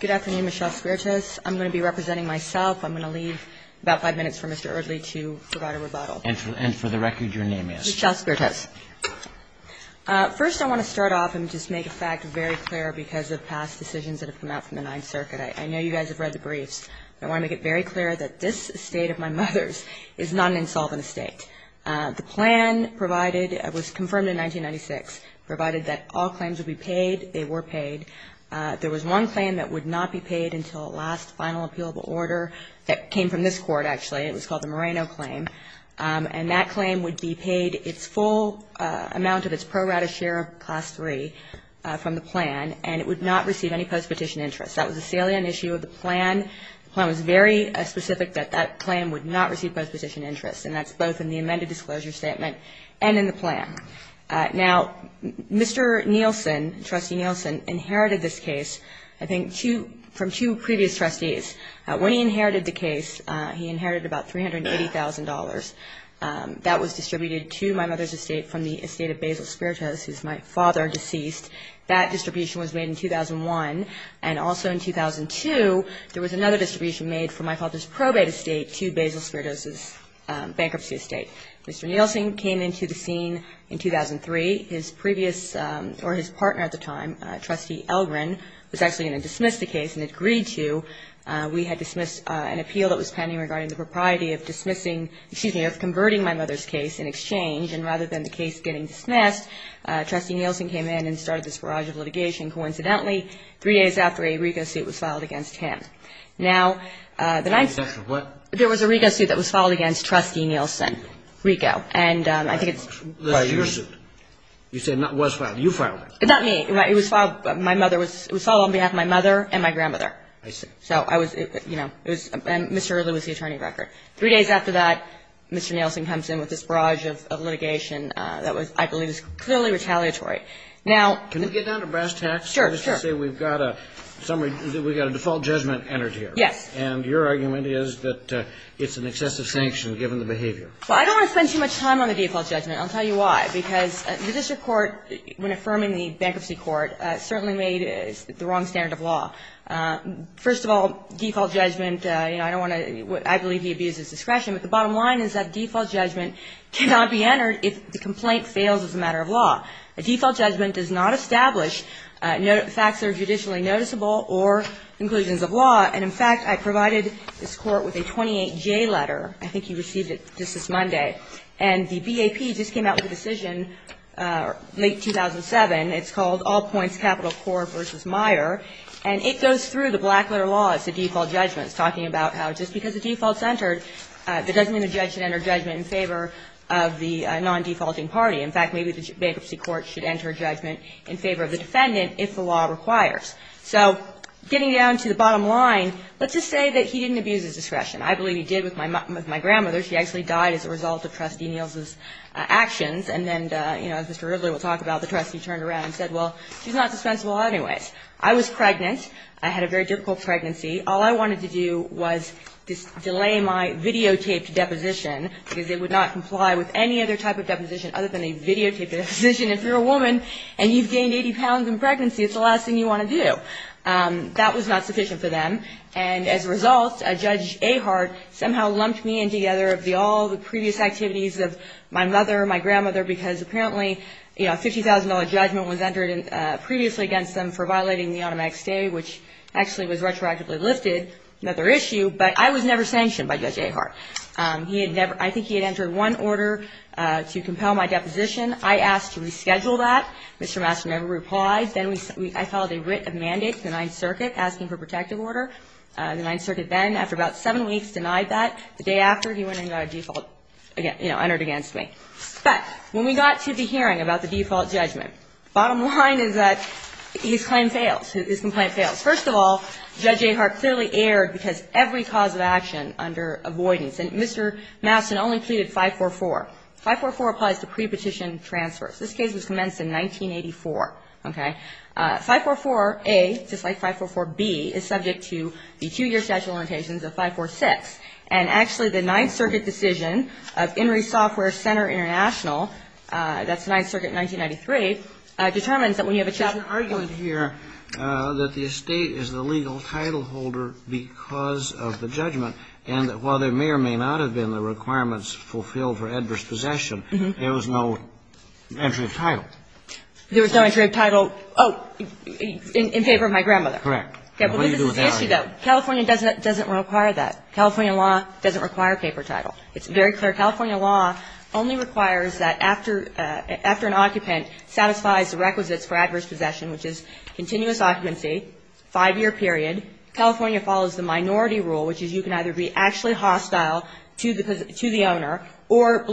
Good afternoon, Michelle Spirtos. I'm going to be representing myself. I'm going to leave about five minutes for Mr. Eardley to provide a rebuttal. And for the record, your name is? Michelle Spirtos. First, I want to start off and just make a fact very clear because of past decisions that have come out from the Ninth Circuit. I know you guys have read the briefs. I want to make it very clear that this estate of my mother's is not an insolvent estate. The plan provided, it was confirmed in 1996, provided that all claims would be paid. They were paid. There was one claim that would not be paid until the last final appealable order that came from this court, actually. It was called the Moreno claim. And that claim would be paid its full amount of its pro rata share of Class III from the plan, and it would not receive any post-petition interest. That was a salient issue of the plan. The plan was very specific that that claim would not receive post-petition interest, and that's both in the amended disclosure statement and in the plan. Now, Mr. Nielsen, Trustee Nielsen, inherited this case, I think, from two previous trustees. When he inherited the case, he inherited about $380,000. That was distributed to my mother's estate from the estate of Basil Spiritos, who is my father, deceased. That distribution was made in 2001. And also in 2002, there was another distribution made from my father's probate estate to Basil Spiritos' bankruptcy estate. Mr. Nielsen came into the scene in 2003. His previous or his partner at the time, Trustee Elrin, was actually going to dismiss the case and agree to. We had dismissed an appeal that was pending regarding the propriety of dismissing of converting my mother's case in exchange, and rather than the case getting dismissed, Trustee Nielsen came in and started this barrage of litigation. Coincidentally, three days after a RICO suit was filed against him. Now, the next one. There was a RICO suit that was filed against Trustee Nielsen. RICO. And I think it's. Your suit. You said it was filed. You filed it. Not me. It was filed on behalf of my mother and my grandmother. I see. So I was, you know, it was Mr. Elrin was the attorney record. Three days after that, Mr. Nielsen comes in with this barrage of litigation that was, I believe, is clearly retaliatory. Now. Can we get down to brass tacks? Sure, sure. Let's just say we've got a summary, we've got a default judgment entered here. Yes. And your argument is that it's an excessive sanction given the behavior. Well, I don't want to spend too much time on the default judgment. I'll tell you why. Because the district court, when affirming the bankruptcy court, certainly made the wrong standard of law. First of all, default judgment, you know, I don't want to, I believe he abuses discretion. But the bottom line is that default judgment cannot be entered if the complaint fails as a matter of law. A default judgment does not establish facts that are judicially noticeable or inclusions of law. And, in fact, I provided this Court with a 28J letter. I think you received it just this Monday. And the BAP just came out with a decision late 2007. It's called All Points Capital Court v. Meyer. And it goes through the black letter law as a default judgment. It's talking about how just because a default's entered, that doesn't mean a judge should enter judgment in favor of the non-defaulting party. In fact, maybe the bankruptcy court should enter judgment in favor of the defendant if the law requires. So getting down to the bottom line, let's just say that he didn't abuse his discretion. I believe he did with my grandmother. She actually died as a result of Trustee Niels' actions. And then, you know, as Mr. Ridley will talk about, the trustee turned around and said, well, she's not dispensable anyways. I was pregnant. I had a very difficult pregnancy. All I wanted to do was delay my videotaped deposition because it would not comply with any other type of deposition other than a videotaped deposition. If you're a woman and you've gained 80 pounds in pregnancy, it's the last thing you want to do. That was not sufficient for them. And as a result, Judge Ahart somehow lumped me in together of all the previous activities of my mother, my grandmother, because apparently, you know, a $50,000 judgment was entered previously against them for violating the automatic stay, which actually was retroactively lifted, another issue. But I was never sanctioned by Judge Ahart. He had never – I think he had entered one order to compel my deposition. I asked to reschedule that. Mr. Master never replied. Then I filed a writ of mandate to the Ninth Circuit asking for a protective order. The Ninth Circuit then, after about seven weeks, denied that. The day after, he went and got a default, you know, entered against me. But when we got to the hearing about the default judgment, bottom line is that his claim fails. His complaint fails. First of all, Judge Ahart clearly erred because every cause of action under avoidance and Mr. Mastin only pleaded 544. 544 applies to pre-petition transfers. This case was commenced in 1984. Okay. 544A, just like 544B, is subject to the two-year statute of limitations of 546. And actually, the Ninth Circuit decision of In re Software Center International, that's the Ninth Circuit in 1993, determines that when you have a child – And the judge said that the estate is the legal title holder because of the judgment and that while there may or may not have been the requirements fulfilled for adverse possession, there was no entry of title. There was no entry of title. Oh, in favor of my grandmother. Correct. Okay. But this is the issue, though. California doesn't require that. California law doesn't require paper title. It's very clear. California law only requires that after an occupant satisfies the requisites for adverse possession, which is continuous occupancy, five-year period, California follows the minority rule, which is you can either be actually hostile to the owner or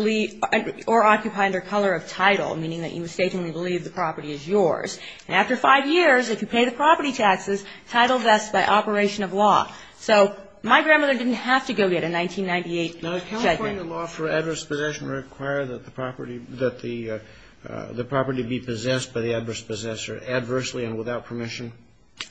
occupy under color of title, meaning that you mistakenly believe the property is yours. And after five years, if you pay the property taxes, title vests by operation of law. So my grandmother didn't have to go get a 1998 check. Does California law for adverse possession require that the property be possessed by the adverse possessor adversely and without permission?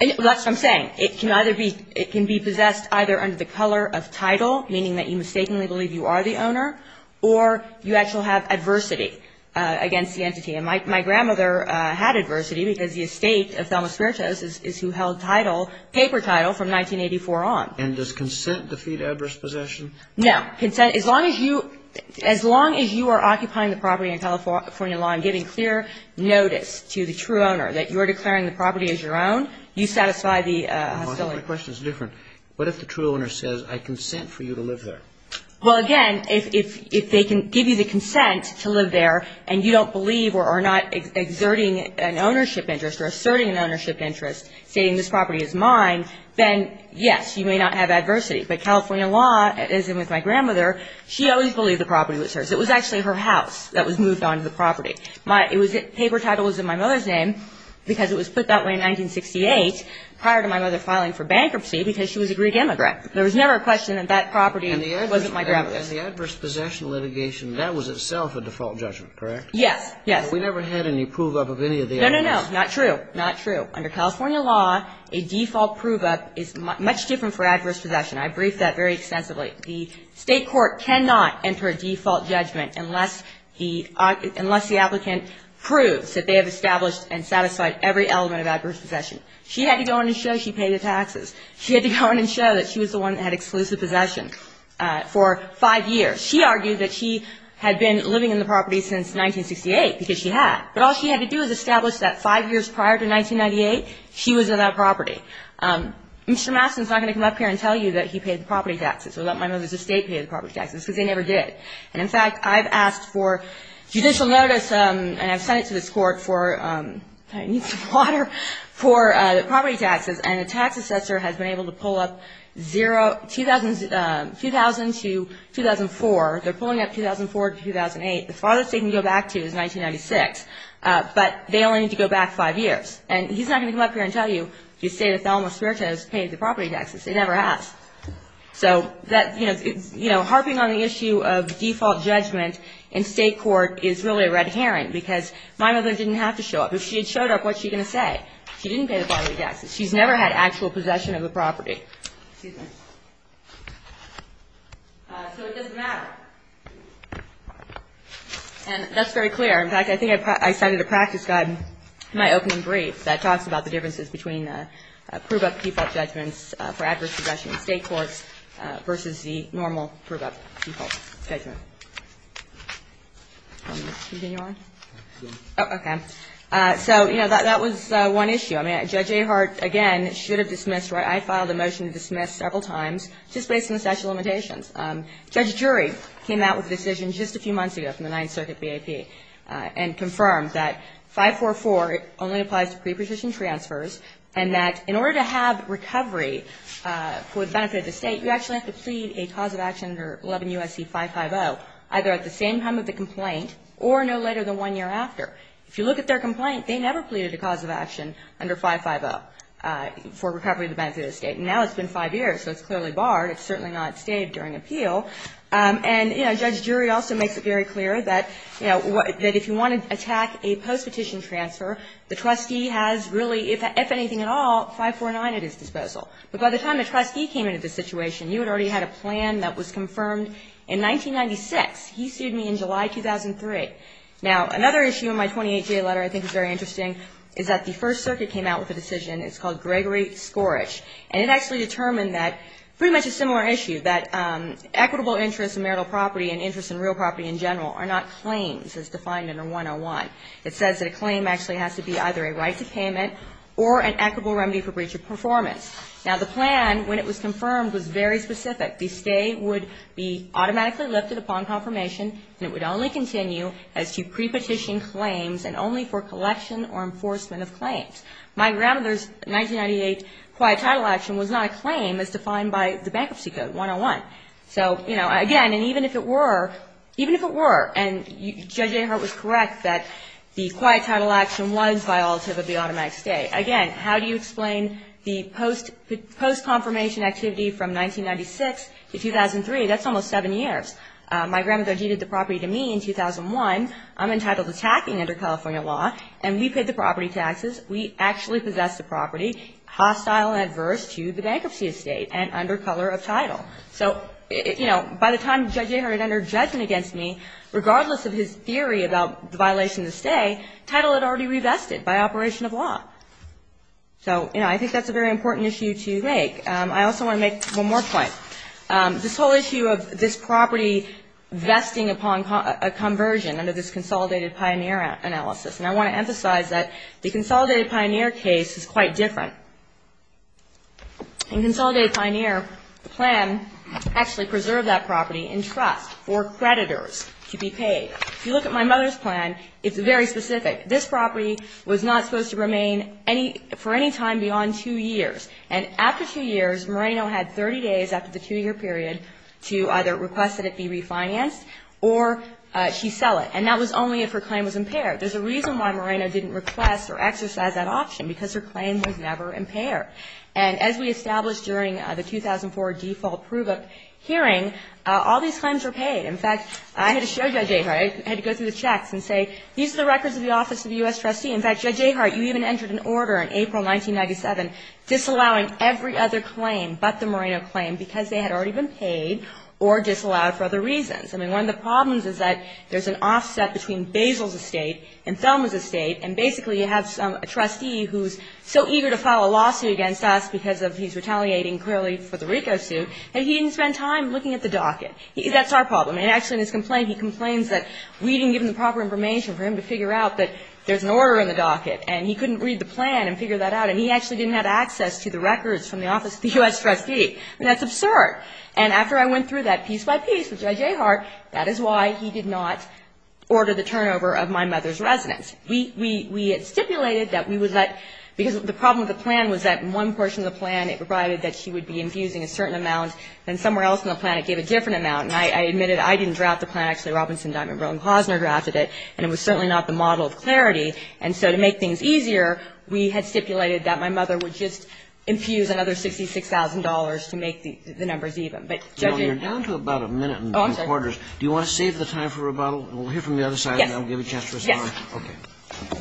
That's what I'm saying. It can either be possessed either under the color of title, meaning that you mistakenly believe you are the owner, or you actually have adversity against the entity. And my grandmother had adversity because the estate of Thelma Smiertos is who held title, paper title, from 1984 on. And does consent defeat adverse possession? No. Consent, as long as you are occupying the property in California law and giving clear notice to the true owner that you are declaring the property as your own, you satisfy the hostility. My question is different. What if the true owner says, I consent for you to live there? Well, again, if they can give you the consent to live there and you don't believe or are not exerting an ownership interest or asserting an ownership interest, saying this property is mine, then, yes, you may not have adversity. But California law, as with my grandmother, she always believed the property was hers. It was actually her house that was moved onto the property. Paper title was in my mother's name because it was put that way in 1968 prior to my mother filing for bankruptcy because she was a Greek immigrant. There was never a question that that property wasn't my grandmother's. And the adverse possession litigation, that was itself a default judgment, correct? Yes. Yes. But we never had any prove-up of any of the evidence. No, no, no. Not true. Not true. Under California law, a default prove-up is much different for adverse possession. I briefed that very extensively. The State court cannot enter a default judgment unless the applicant proves that they have established and satisfied every element of adverse possession. She had to go in and show she paid the taxes. She had to go in and show that she was the one that had exclusive possession for five years. She argued that she had been living in the property since 1968 because she had. But all she had to do was establish that five years prior to 1998, she was in that property. Mr. Mastin is not going to come up here and tell you that he paid the property taxes or that my mother's estate paid the property taxes because they never did. And, in fact, I've asked for judicial notice, and I've sent it to this court for I need some water, for the property taxes. And the tax assessor has been able to pull up 2000 to 2004. They're pulling up 2004 to 2008. The farthest they can go back to is 1996. But they only need to go back five years. And he's not going to come up here and tell you the estate of Thelma Espirito has paid the property taxes. It never has. So that, you know, harping on the issue of default judgment in state court is really a red herring because my mother didn't have to show up. If she had showed up, what's she going to say? She didn't pay the property taxes. She's never had actual possession of the property. So it doesn't matter. And that's very clear. In fact, I think I cited a practice guide in my opening brief that talks about the versus the normal proof of default judgment. Continue on? Oh, okay. So, you know, that was one issue. I mean, Judge Ahart, again, should have dismissed. I filed a motion to dismiss several times just based on the statute of limitations. Judge Drury came out with a decision just a few months ago from the Ninth Circuit BAP and confirmed that 544 only applies to preposition transfers and that in order to have recovery for the benefit of the state, you actually have to plead a cause of action under 11 U.S.C. 550, either at the same time of the complaint or no later than one year after. If you look at their complaint, they never pleaded a cause of action under 550 for recovery of the benefit of the state. Now it's been five years, so it's clearly barred. It's certainly not stayed during appeal. And, you know, Judge Drury also makes it very clear that, you know, that if you want to attack a post-petition transfer, the trustee has really, if anything at all, 549 at his disposal. But by the time the trustee came into the situation, you had already had a plan that was confirmed in 1996. He sued me in July 2003. Now, another issue in my 28-day letter I think is very interesting is that the First Circuit came out with a decision. It's called Gregory-Skorich. And it actually determined that pretty much a similar issue, that equitable interest in marital property and interest in real property in general are not claims as defined under 101. It says that a claim actually has to be either a right to payment or an equitable remedy for breach of performance. Now, the plan, when it was confirmed, was very specific. The stay would be automatically lifted upon confirmation, and it would only continue as to pre-petition claims and only for collection or enforcement of claims. My grandmother's 1998 quiet title action was not a claim as defined by the bankruptcy code, 101. So, you know, again, and even if it were, even if it were, and Judge Ahart was correct that the quiet title action was violative of the automatic stay. Again, how do you explain the post-confirmation activity from 1996 to 2003? That's almost seven years. My grandmother deeded the property to me in 2001. I'm entitled to tacking under California law, and we paid the property taxes. We actually possessed the property, hostile and adverse to the bankruptcy estate and under color of title. So, you know, by the time Judge Ahart had entered judgment against me, regardless of his theory about the violation of the stay, title had already revested by operation of law. So, you know, I think that's a very important issue to make. I also want to make one more point. This whole issue of this property vesting upon a conversion under this consolidated pioneer analysis, and I want to emphasize that the consolidated pioneer case is quite different. In consolidated pioneer, the plan actually preserved that property in trust for creditors to be paid. If you look at my mother's plan, it's very specific. This property was not supposed to remain for any time beyond two years. And after two years, Moreno had 30 days after the two-year period to either request that it be refinanced or she sell it. And that was only if her claim was impaired. There's a reason why Moreno didn't request or exercise that option, because her claim was never impaired. And as we established during the 2004 default proof of hearing, all these claims were paid. In fact, I had to show Judge Ahart, I had to go through the checks and say, these are the records of the office of the U.S. trustee. In fact, Judge Ahart, you even entered an order in April 1997 disallowing every other claim but the Moreno claim because they had already been paid or disallowed for other reasons. I mean, one of the problems is that there's an offset between Basil's estate and Thelma's estate, and basically you have a trustee who's so eager to file a lawsuit against us because of he's retaliating clearly for the RICO suit, and he didn't spend time looking at the docket. That's our problem. And actually in his complaint, he complains that we didn't give him the proper information for him to figure out that there's an order in the docket, and he couldn't read the plan and figure that out, and he actually didn't have access to the records from the office of the U.S. trustee. I mean, that's absurd. And after I went through that piece by piece with Judge Ahart, that is why he did not We had stipulated that we would let, because the problem with the plan was that in one portion of the plan, it provided that she would be infusing a certain amount. Then somewhere else in the plan, it gave a different amount. And I admitted I didn't draft the plan. Actually, Robinson, Diamond, Brown, and Posner drafted it, and it was certainly not the model of clarity. And so to make things easier, we had stipulated that my mother would just infuse another $66,000 to make the numbers even. But, Judge Ahart. Kagan, you're down to about a minute and a quarter. Oh, I'm sorry. Do you want to save the time for rebuttal? We'll hear from the other side. I'll give you a chance to respond. Yes. Okay.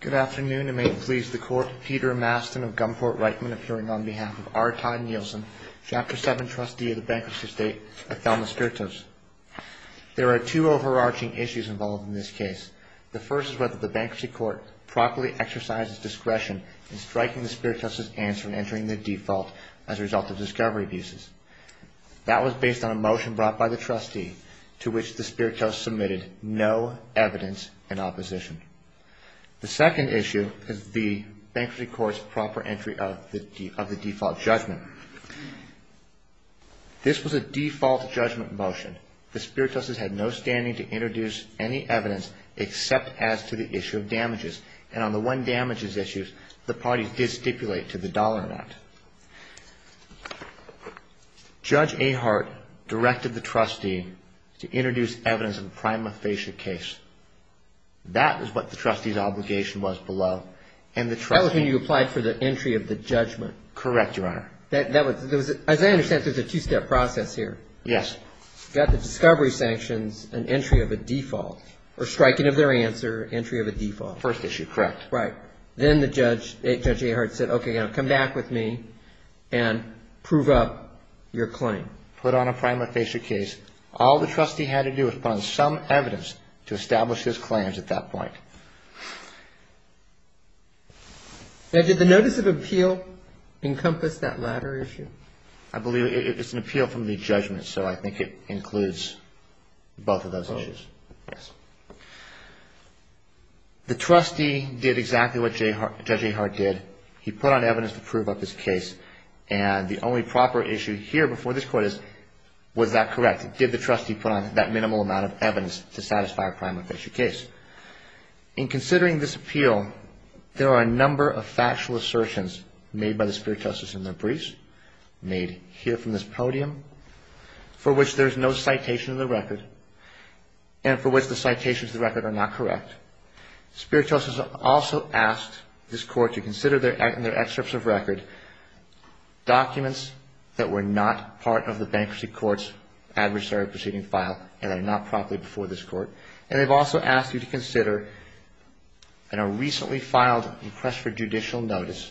Good afternoon. It may please the Court. Peter Mastin of Gunport-Reichman, appearing on behalf of R. Todd Nielsen, Chapter 7 Trustee of the Bankruptcy State at Thelma Sturtos. There are two overarching issues involved in this case. The first is whether the bankruptcy court properly exercised its discretion in striking the spirit test's answer and entering the default as a result of discovery abuses. That was based on a motion brought by the trustee to which the spirit test submitted no evidence in opposition. The second issue is the bankruptcy court's proper entry of the default judgment. This was a default judgment motion. The spirit test has had no standing to introduce any evidence except as to the issue of damages. And on the one damages issues, the parties did stipulate to the Dollar Act. Judge Ahart directed the trustee to introduce evidence of a prima facie case. That is what the trustee's obligation was below. That was when you applied for the entry of the judgment. Correct, Your Honor. As I understand, there's a two-step process here. Yes. You've got the discovery sanctions and entry of a default or striking of their answer, entry of a default. First issue, correct. Right. Then Judge Ahart said, okay, come back with me and prove up your claim. Put on a prima facie case. All the trustee had to do was put on some evidence to establish his claims at that point. Now, did the notice of appeal encompass that latter issue? I believe it's an appeal from the judgment, so I think it includes both of those issues. Both? Yes. The trustee did exactly what Judge Ahart did. He put on evidence to prove up his case. And the only proper issue here before this Court is, was that correct? Did the trustee put on that minimal amount of evidence to satisfy a prima facie case? In considering this appeal, there are a number of factual assertions made by the spiritus in their briefs, made here from this podium, for which there's no citation of the record and for which the citations of the record are not correct. Spiritus has also asked this Court to consider in their excerpts of record documents that were not part of the bankruptcy court's adversary proceeding file and are not properly before this Court. And they've also asked you to consider in a recently filed and pressed for judicial notice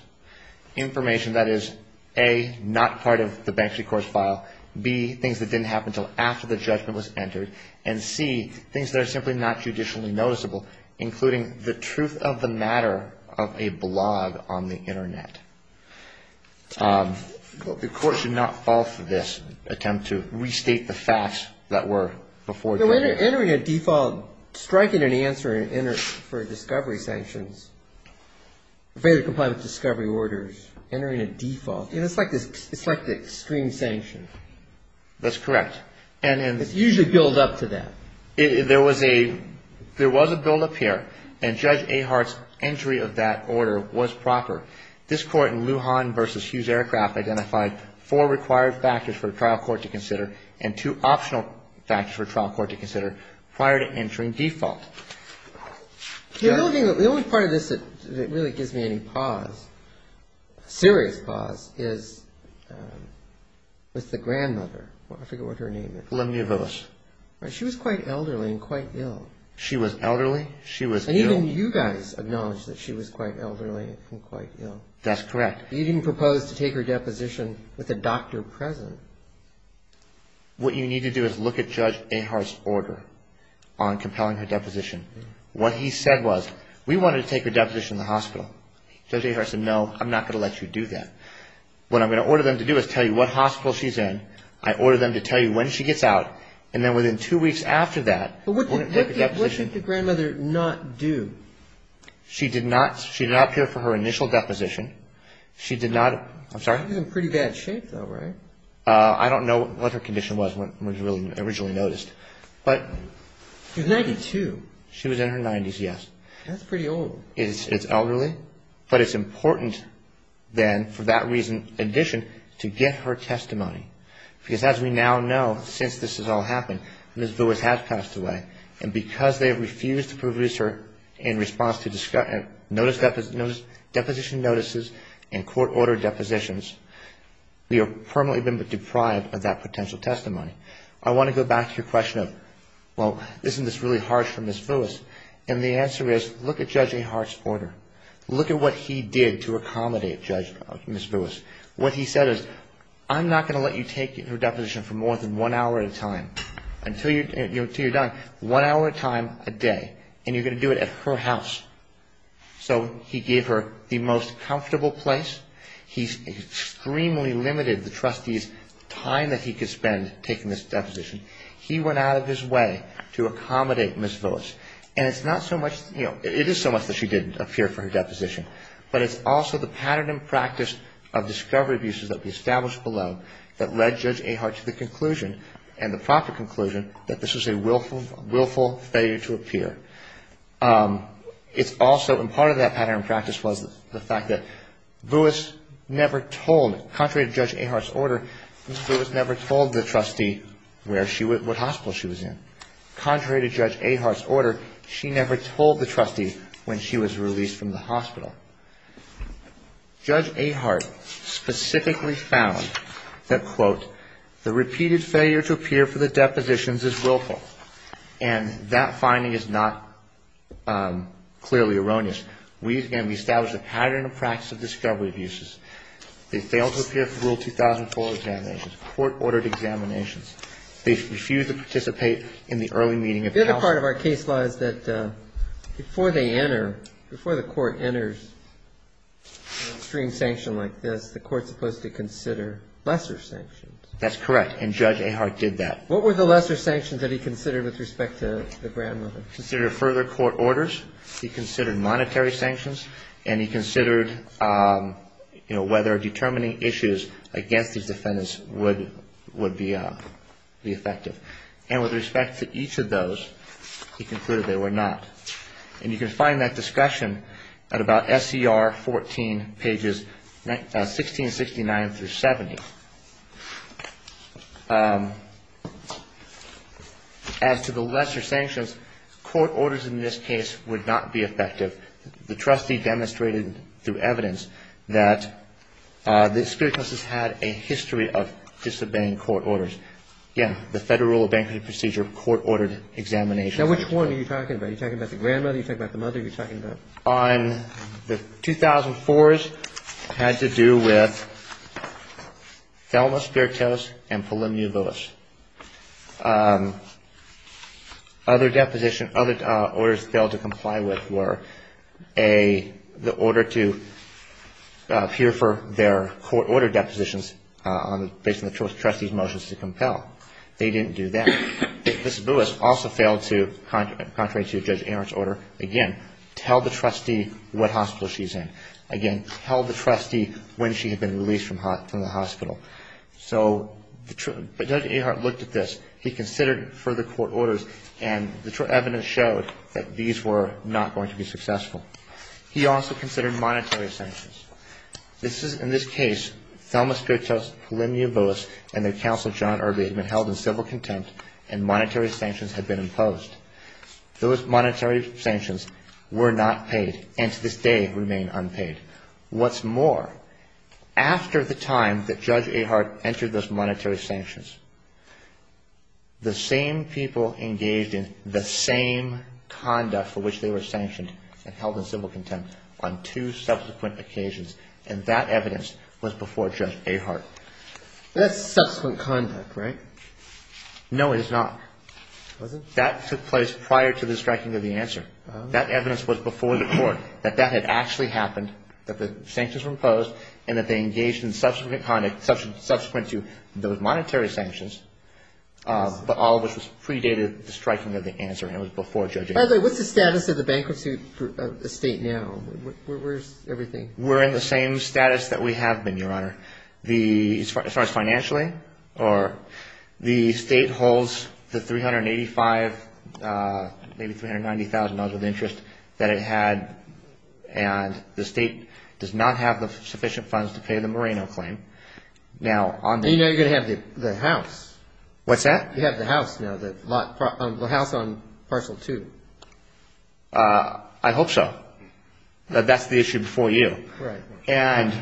information that is, A, not part of the bankruptcy court's file, B, things that didn't happen until after the judgment was entered, and C, things that are simply not judicially noticeable, including the truth of the matter of a blog on the Internet. The Court should not fall for this attempt to restate the facts that were before judgment. So entering a default, striking an answer for discovery sanctions, failure to comply with discovery orders, entering a default, it's like the extreme sanction. That's correct. It's usually built up to that. There was a buildup here, and Judge Ahart's entry of that order was proper. This Court in Lujan v. Hughes Aircraft identified four required factors for a court to consider prior to entering default. The only part of this that really gives me any pause, serious pause, is with the grandmother. I forget what her name is. Olympia Villas. She was quite elderly and quite ill. She was elderly. She was ill. And even you guys acknowledged that she was quite elderly and quite ill. That's correct. You didn't propose to take her deposition with a doctor present. What you need to do is look at Judge Ahart's entry. What he said was, we wanted to take her deposition in the hospital. Judge Ahart said, no, I'm not going to let you do that. What I'm going to order them to do is tell you what hospital she's in. I order them to tell you when she gets out. And then within two weeks after that, we're going to take her deposition. But what should the grandmother not do? She did not appear for her initial deposition. She did not, I'm sorry? She was in pretty bad shape, though, right? I don't know what her condition was when she was originally noticed. She was 92. She was in her 90s, yes. That's pretty old. It's elderly. But it's important then, for that reason in addition, to get her testimony. Because as we now know, since this has all happened, Ms. Villas has passed away. And because they refused to produce her in response to deposition notices and court-ordered depositions, we have permanently been deprived of that potential testimony. I want to go back to your question of, well, isn't this really harsh for Ms. Villas? And the answer is, look at Judge Ahart's order. Look at what he did to accommodate Ms. Villas. What he said is, I'm not going to let you take her deposition for more than one hour at a time. Until you're done, one hour at a time a day. And you're going to do it at her house. So he gave her the most comfortable place. He extremely limited the trustee's time that he could spend taking this deposition. He went out of his way to accommodate Ms. Villas. And it's not so much, you know, it is so much that she didn't appear for her deposition, but it's also the pattern and practice of discovery abuses that we established below that led Judge Ahart to the conclusion and the proper conclusion that this is a willful failure to appear. It's also, and part of that pattern and practice was the fact that Villas never told, contrary to Judge Ahart's order, Ms. Villas never told the trustee what hospital she was in. Contrary to Judge Ahart's order, she never told the trustee when she was released from the hospital. The repeated failure to appear for the depositions is willful. And that finding is not clearly erroneous. We, again, we established a pattern and practice of discovery abuses. They failed to appear for Rule 2004 examinations, court-ordered examinations. They refused to participate in the early meeting of counsel. The other part of our case law is that before they enter, before the court enters an extreme sanction like this, the court's supposed to consider lesser sanctions. That's correct. And Judge Ahart did that. What were the lesser sanctions that he considered with respect to the grandmother? He considered further court orders. He considered monetary sanctions. And he considered, you know, whether determining issues against these defendants would be effective. And with respect to each of those, he concluded they were not. And you can find that discretion at about SCR 14, pages 1669 through 70. As to the lesser sanctions, court orders in this case would not be effective. The trustee demonstrated through evidence that the spirit test has had a history of disobeying court orders. Again, the Federal Rule of Bankruptcy Procedure, court-ordered examinations. Now, which one are you talking about? Are you talking about the grandmother? Are you talking about the mother? Are you talking about? On the 2004s, it had to do with Thelma Spiritus and Polymne Buis. Other deposition, other orders failed to comply with were the order to peer for their court-ordered depositions based on the trustee's motions to compel. They didn't do that. Mrs. Buis also failed to, contrary to Judge Ahart's order, again, tell the trustee what hospital she's in. Again, tell the trustee when she had been released from the hospital. So Judge Ahart looked at this. He considered further court orders, and the evidence showed that these were not going to be successful. He also considered monetary sanctions. In this case, Thelma Spiritus, Polymne Buis, and their counsel, John Irby, had been held in civil contempt, and monetary sanctions had been imposed. Those monetary sanctions were not paid, and to this day remain unpaid. What's more, after the time that Judge Ahart entered those monetary sanctions, the same people engaged in the same conduct for which they were sanctioned and held in civil contempt on two subsequent occasions, and that evidence was before Judge Ahart. That's subsequent conduct, right? No, it is not. It wasn't? That took place prior to the striking of the answer. Oh. That evidence was before the court, that that had actually happened, that the sanctions were imposed, and that they engaged in subsequent conduct subsequent to those monetary sanctions, but all of which was predated the striking of the answer, and it was before Judge Ahart. By the way, what's the status of the bankruptcy estate now? Where's everything? We're in the same status that we have been, Your Honor. As far as financially, the state holds the $385,000, maybe $390,000 worth of interest that it had, and the state does not have the sufficient funds to pay the Moreno claim. Now, on the other hand you're going to have the house. What's that? You have the house now, the house on Parcel 2. I hope so. That's the issue before you. Right. And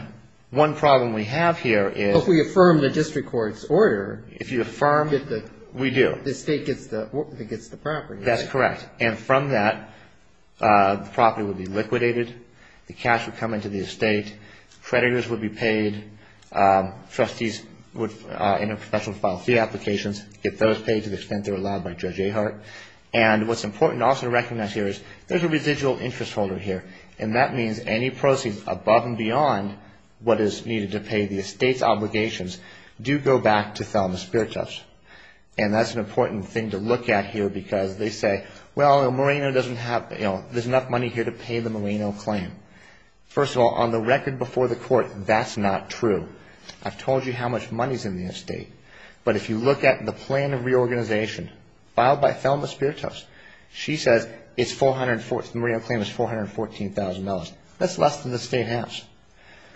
one problem we have here is. If we affirm the district court's order. If you affirm. We do. The state gets the property. That's correct. And from that, the property would be liquidated. The cash would come into the estate. Creditors would be paid. Trustees would in a professional file fee applications. Get those paid to the extent they're allowed by Judge Ahart. And what's important also to recognize here is there's a residual interest holder here, and that means any proceeds above and beyond what is needed to pay the estate's obligations do go back to Thelma Speartoffs. And that's an important thing to look at here because they say, well, Moreno doesn't have. There's enough money here to pay the Moreno claim. First of all, on the record before the court, that's not true. I've told you how much money is in the estate. But if you look at the plan of reorganization filed by Thelma Speartoffs, she says the Moreno claim is $414,000. That's less than the state has.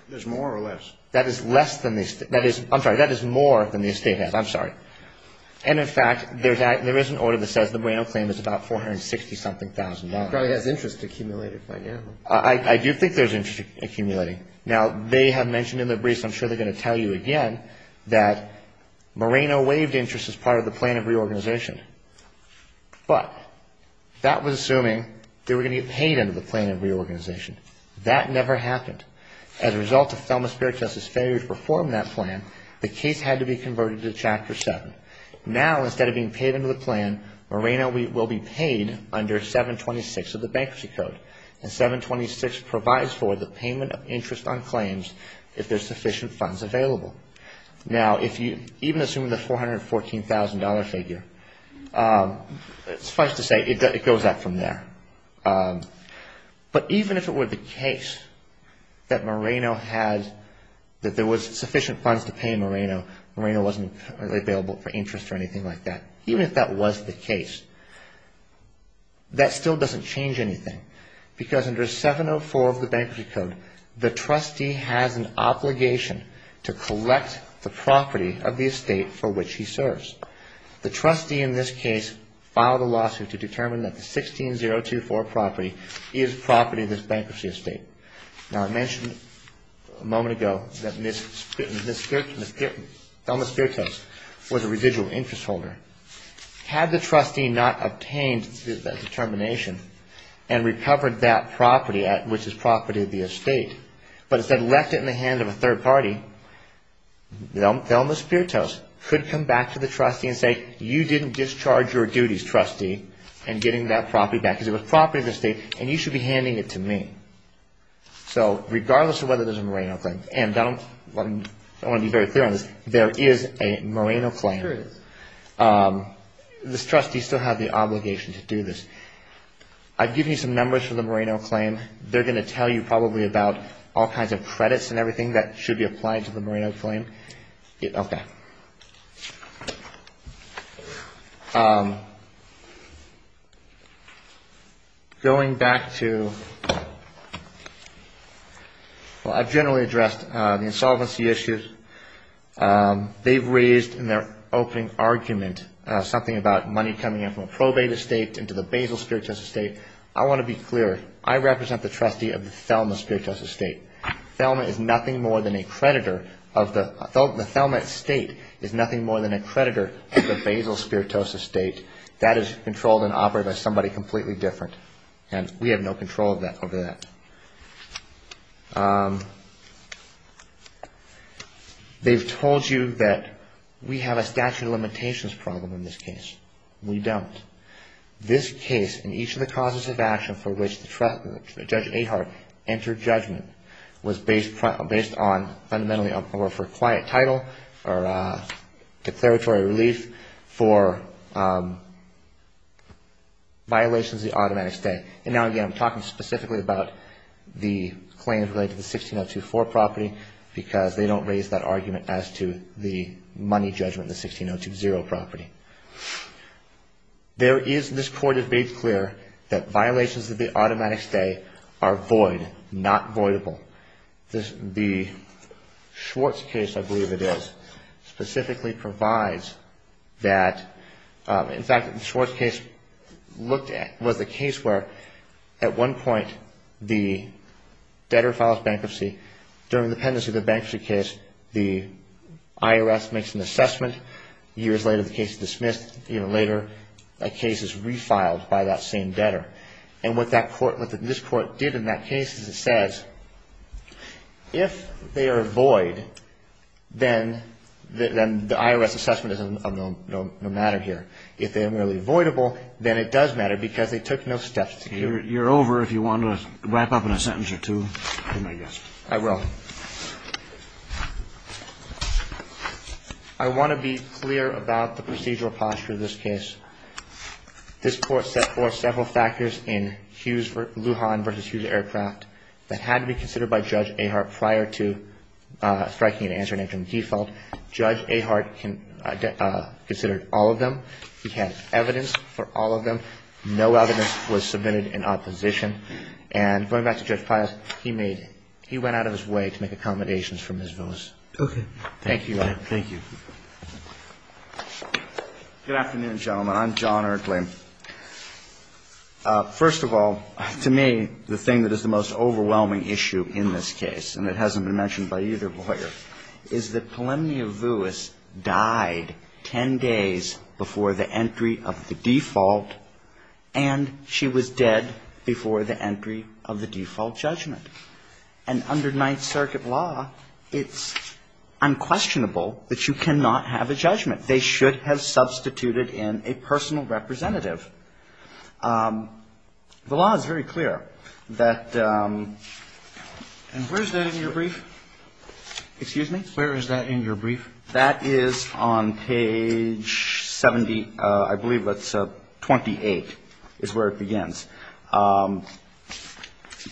That's more or less. That is less than. I'm sorry. That is more than the estate has. I'm sorry. And, in fact, there is an order that says the Moreno claim is about $460,000. It probably has interest accumulated by now. I do think there's interest accumulating. Now, they have mentioned in their briefs, and I'm sure they're going to tell you again, that Moreno waived interest as part of the plan of reorganization. But that was assuming they were going to get paid under the plan of reorganization. That never happened. As a result of Thelma Speartoffs' failure to perform that plan, the case had to be converted to Chapter 7. Now, instead of being paid under the plan, Moreno will be paid under 726 of the Bankruptcy Code. And 726 provides for the payment of interest on claims if there's sufficient funds available. Now, even assuming the $414,000 figure, suffice to say, it goes up from there. But even if it were the case that Moreno had, that there was sufficient funds to pay Moreno, Moreno wasn't available for interest or anything like that, even if that was the case, that still doesn't change anything. Because under 704 of the Bankruptcy Code, the trustee has an obligation to collect the property of the estate for which he serves. The trustee in this case filed a lawsuit to determine that the 16-024 property is property of this bankruptcy estate. Now, I mentioned a moment ago that Thelma Speartoffs was a residual interest holder. Had the trustee not obtained that determination and recovered that property, which is property of the estate, but instead left it in the hands of a third party, Thelma Speartoffs could come back to the trustee and say, you didn't discharge your duties, trustee, in getting that property back. Because it was property of the estate, and you should be handing it to me. So regardless of whether there's a Moreno claim, and I want to be very clear on this, there is a Moreno claim. This trustee still has the obligation to do this. I've given you some numbers for the Moreno claim. They're going to tell you probably about all kinds of credits and everything that should be applied to the Moreno claim. Okay. Going back to... Well, I've generally addressed the insolvency issues. They've raised in their opening argument something about money coming in from a probate estate into the Basil Speartoffs estate. I want to be clear. I represent the trustee of the Thelma Speartoffs estate. Thelma is nothing more than a creditor of the... The Thelma estate is nothing more than a creditor of the Basil Speartoffs estate. That is controlled and operated by somebody completely different, and we have no control over that. They've told you that we have a statute of limitations problem in this case. We don't. This case, and each of the causes of action for which Judge Ahart entered judgment, was based on fundamentally or for quiet title or declaratory relief for violations of the automatic stay. And now, again, I'm talking specifically about the claims related to the 1602-4 property because they don't raise that argument as to the money judgment in the 1602-0 property. There is... This Court has made clear that violations of the automatic stay are void, not voidable. The Schwartz case, I believe it is, specifically provides that... At one point, the debtor files bankruptcy. During the pendency of the bankruptcy case, the IRS makes an assessment. Years later, the case is dismissed. Even later, a case is refiled by that same debtor. And what that court... What this court did in that case is it says, if they are void, then the IRS assessment is of no matter here. If they are merely voidable, then it does matter because they took no steps to do... You're over if you want to wrap up in a sentence or two. I will. I want to be clear about the procedural posture of this case. This Court set forth several factors in Lujan v. Hughes Aircraft that had to be considered by Judge Ahart prior to striking an answer and entering the default. Judge Ahart considered all of them. He had evidence for all of them. No evidence was submitted in opposition. And going back to Judge Pius, he made... He went out of his way to make accommodations for Ms. Vilas. Okay. Thank you, Your Honor. Thank you. Good afternoon, gentlemen. I'm John Erkley. First of all, to me, the thing that is the most overwhelming issue in this case, and it hasn't been mentioned by either lawyer, is that Pellemnia Vuis died 10 days before the entry of the default, and she was dead before the entry of the default judgment. And under Ninth Circuit law, it's unquestionable that you cannot have a judgment. They should have substituted in a personal representative. The law is very clear that... And where is that in your brief? Excuse me? Where is that in your brief? That is on page 70, I believe it's 28, is where it begins.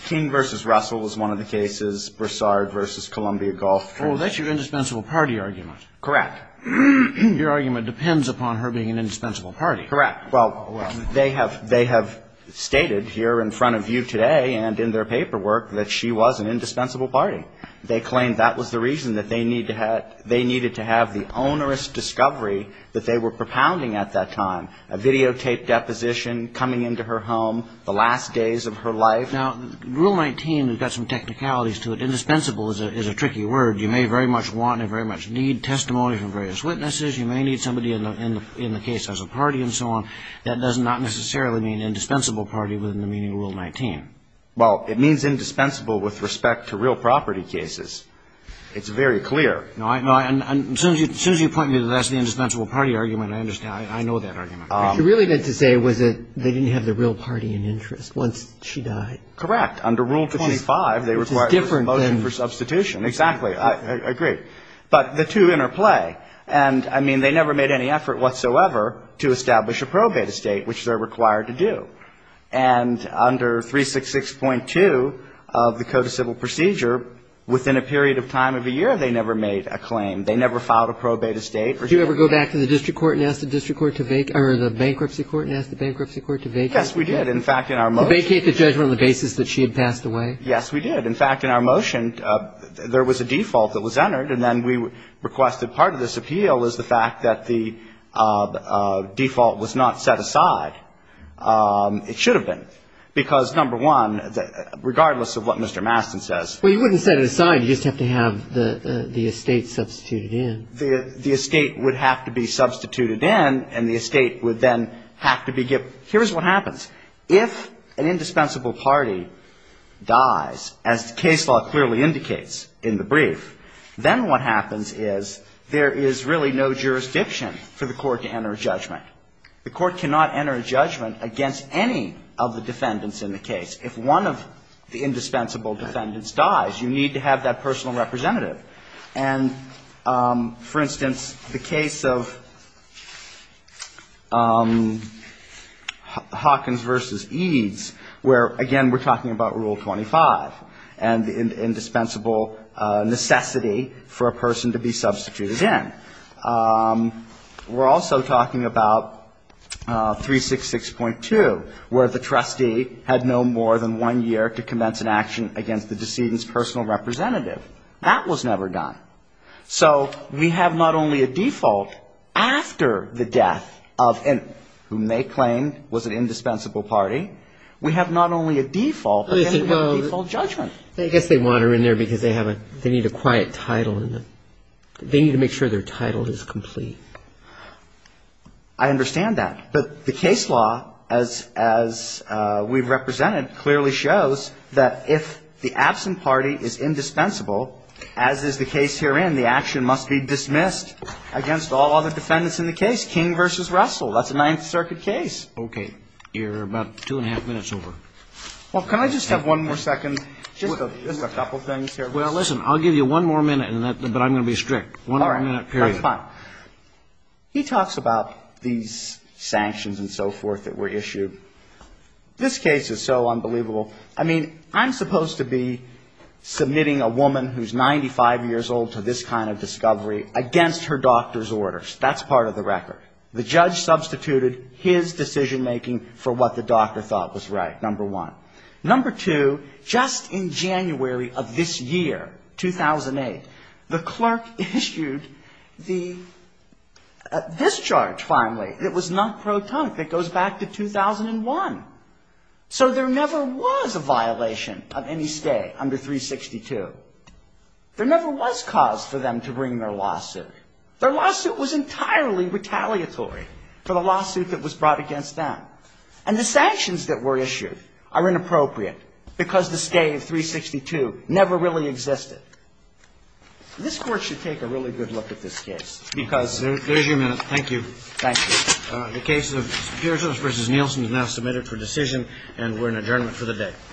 King v. Russell is one of the cases, Broussard v. Columbia Gulf. Oh, that's your indispensable party argument. Correct. Your argument depends upon her being an indispensable party. Correct. Well, they have stated here in front of you today and in their paperwork that she was an indispensable party. They claim that was the reason that they needed to have the onerous discovery that they were propounding at that time, a videotaped deposition coming into her home the last days of her life. Now, Rule 19 has got some technicalities to it. Indispensable is a tricky word. You may very much want and very much need testimony from various witnesses. You may need somebody in the case as a party and so on. That does not necessarily mean indispensable party within the meaning of Rule 19. Well, it means indispensable with respect to real property cases. It's very clear. No, I know. As soon as you point me to that's the indispensable party argument, I understand. I know that argument. What you really meant to say was that they didn't have the real party in interest once she died. Correct. Under Rule 25, they required a motion for substitution. Exactly. I agree. But the two interplay. And, I mean, they never made any effort whatsoever to establish a probate estate, which they're required to do. And under 366.2 of the Code of Civil Procedure, within a period of time of a year, they never made a claim. They never filed a probate estate. Did you ever go back to the district court and ask the bankruptcy court to vacate? Yes, we did. In fact, in our motion. Vacate the judgment on the basis that she had passed away? Yes, we did. In fact, in our motion, there was a default that was entered. And then we requested part of this appeal was the fact that the default was not set aside. It should have been. Because, number one, regardless of what Mr. Mastin says. Well, you wouldn't set it aside. You just have to have the estate substituted in. The estate would have to be substituted in. And the estate would then have to be given. Here's what happens. If an indispensable party dies, as the case law clearly indicates in the brief, then what happens is there is really no jurisdiction for the court to enter a judgment. The court cannot enter a judgment against any of the defendants in the case. If one of the indispensable defendants dies, you need to have that personal representative. And, for instance, the case of Hawkins v. Eads, where, again, we're talking about Rule 25 and the indispensable necessity for a person to be substituted in. We're also talking about 366.2, where the trustee had no more than one year to commence an action against the decedent's personal representative. That was never done. So we have not only a default after the death of whom they claimed was an indispensable party. We have not only a default, but we have a default judgment. I guess they want her in there because they need a quiet title. They need to make sure their title is complete. I understand that. But the case law, as we've represented, clearly shows that if the absent party is indispensable, as is the case herein, the action must be dismissed against all other defendants in the case. King v. Russell. That's a Ninth Circuit case. Okay. You're about two and a half minutes over. Well, can I just have one more second? Just a couple things here. Well, listen. I'll give you one more minute, but I'm going to be strict. One more minute, period. All right. That's fine. He talks about these sanctions and so forth that were issued. This case is so unbelievable. I mean, I'm supposed to be submitting a woman who's 95 years old to this kind of discovery against her doctor's orders. That's part of the record. The judge substituted his decision-making for what the doctor thought was right, number one. Number two, just in January of this year, 2008, the clerk issued the discharge, finally, that was not pro tonic, that goes back to 2001. So there never was a violation of any stay under 362. There never was cause for them to bring their lawsuit. Their lawsuit was entirely retaliatory for the lawsuit that was brought against them. And the sanctions that were issued are inappropriate because the stay of 362 never really existed. This Court should take a really good look at this case. There's your minute. Thank you. Thank you. The case of Pearsons v. Nielsen is now submitted for decision and we're in adjournment for the day.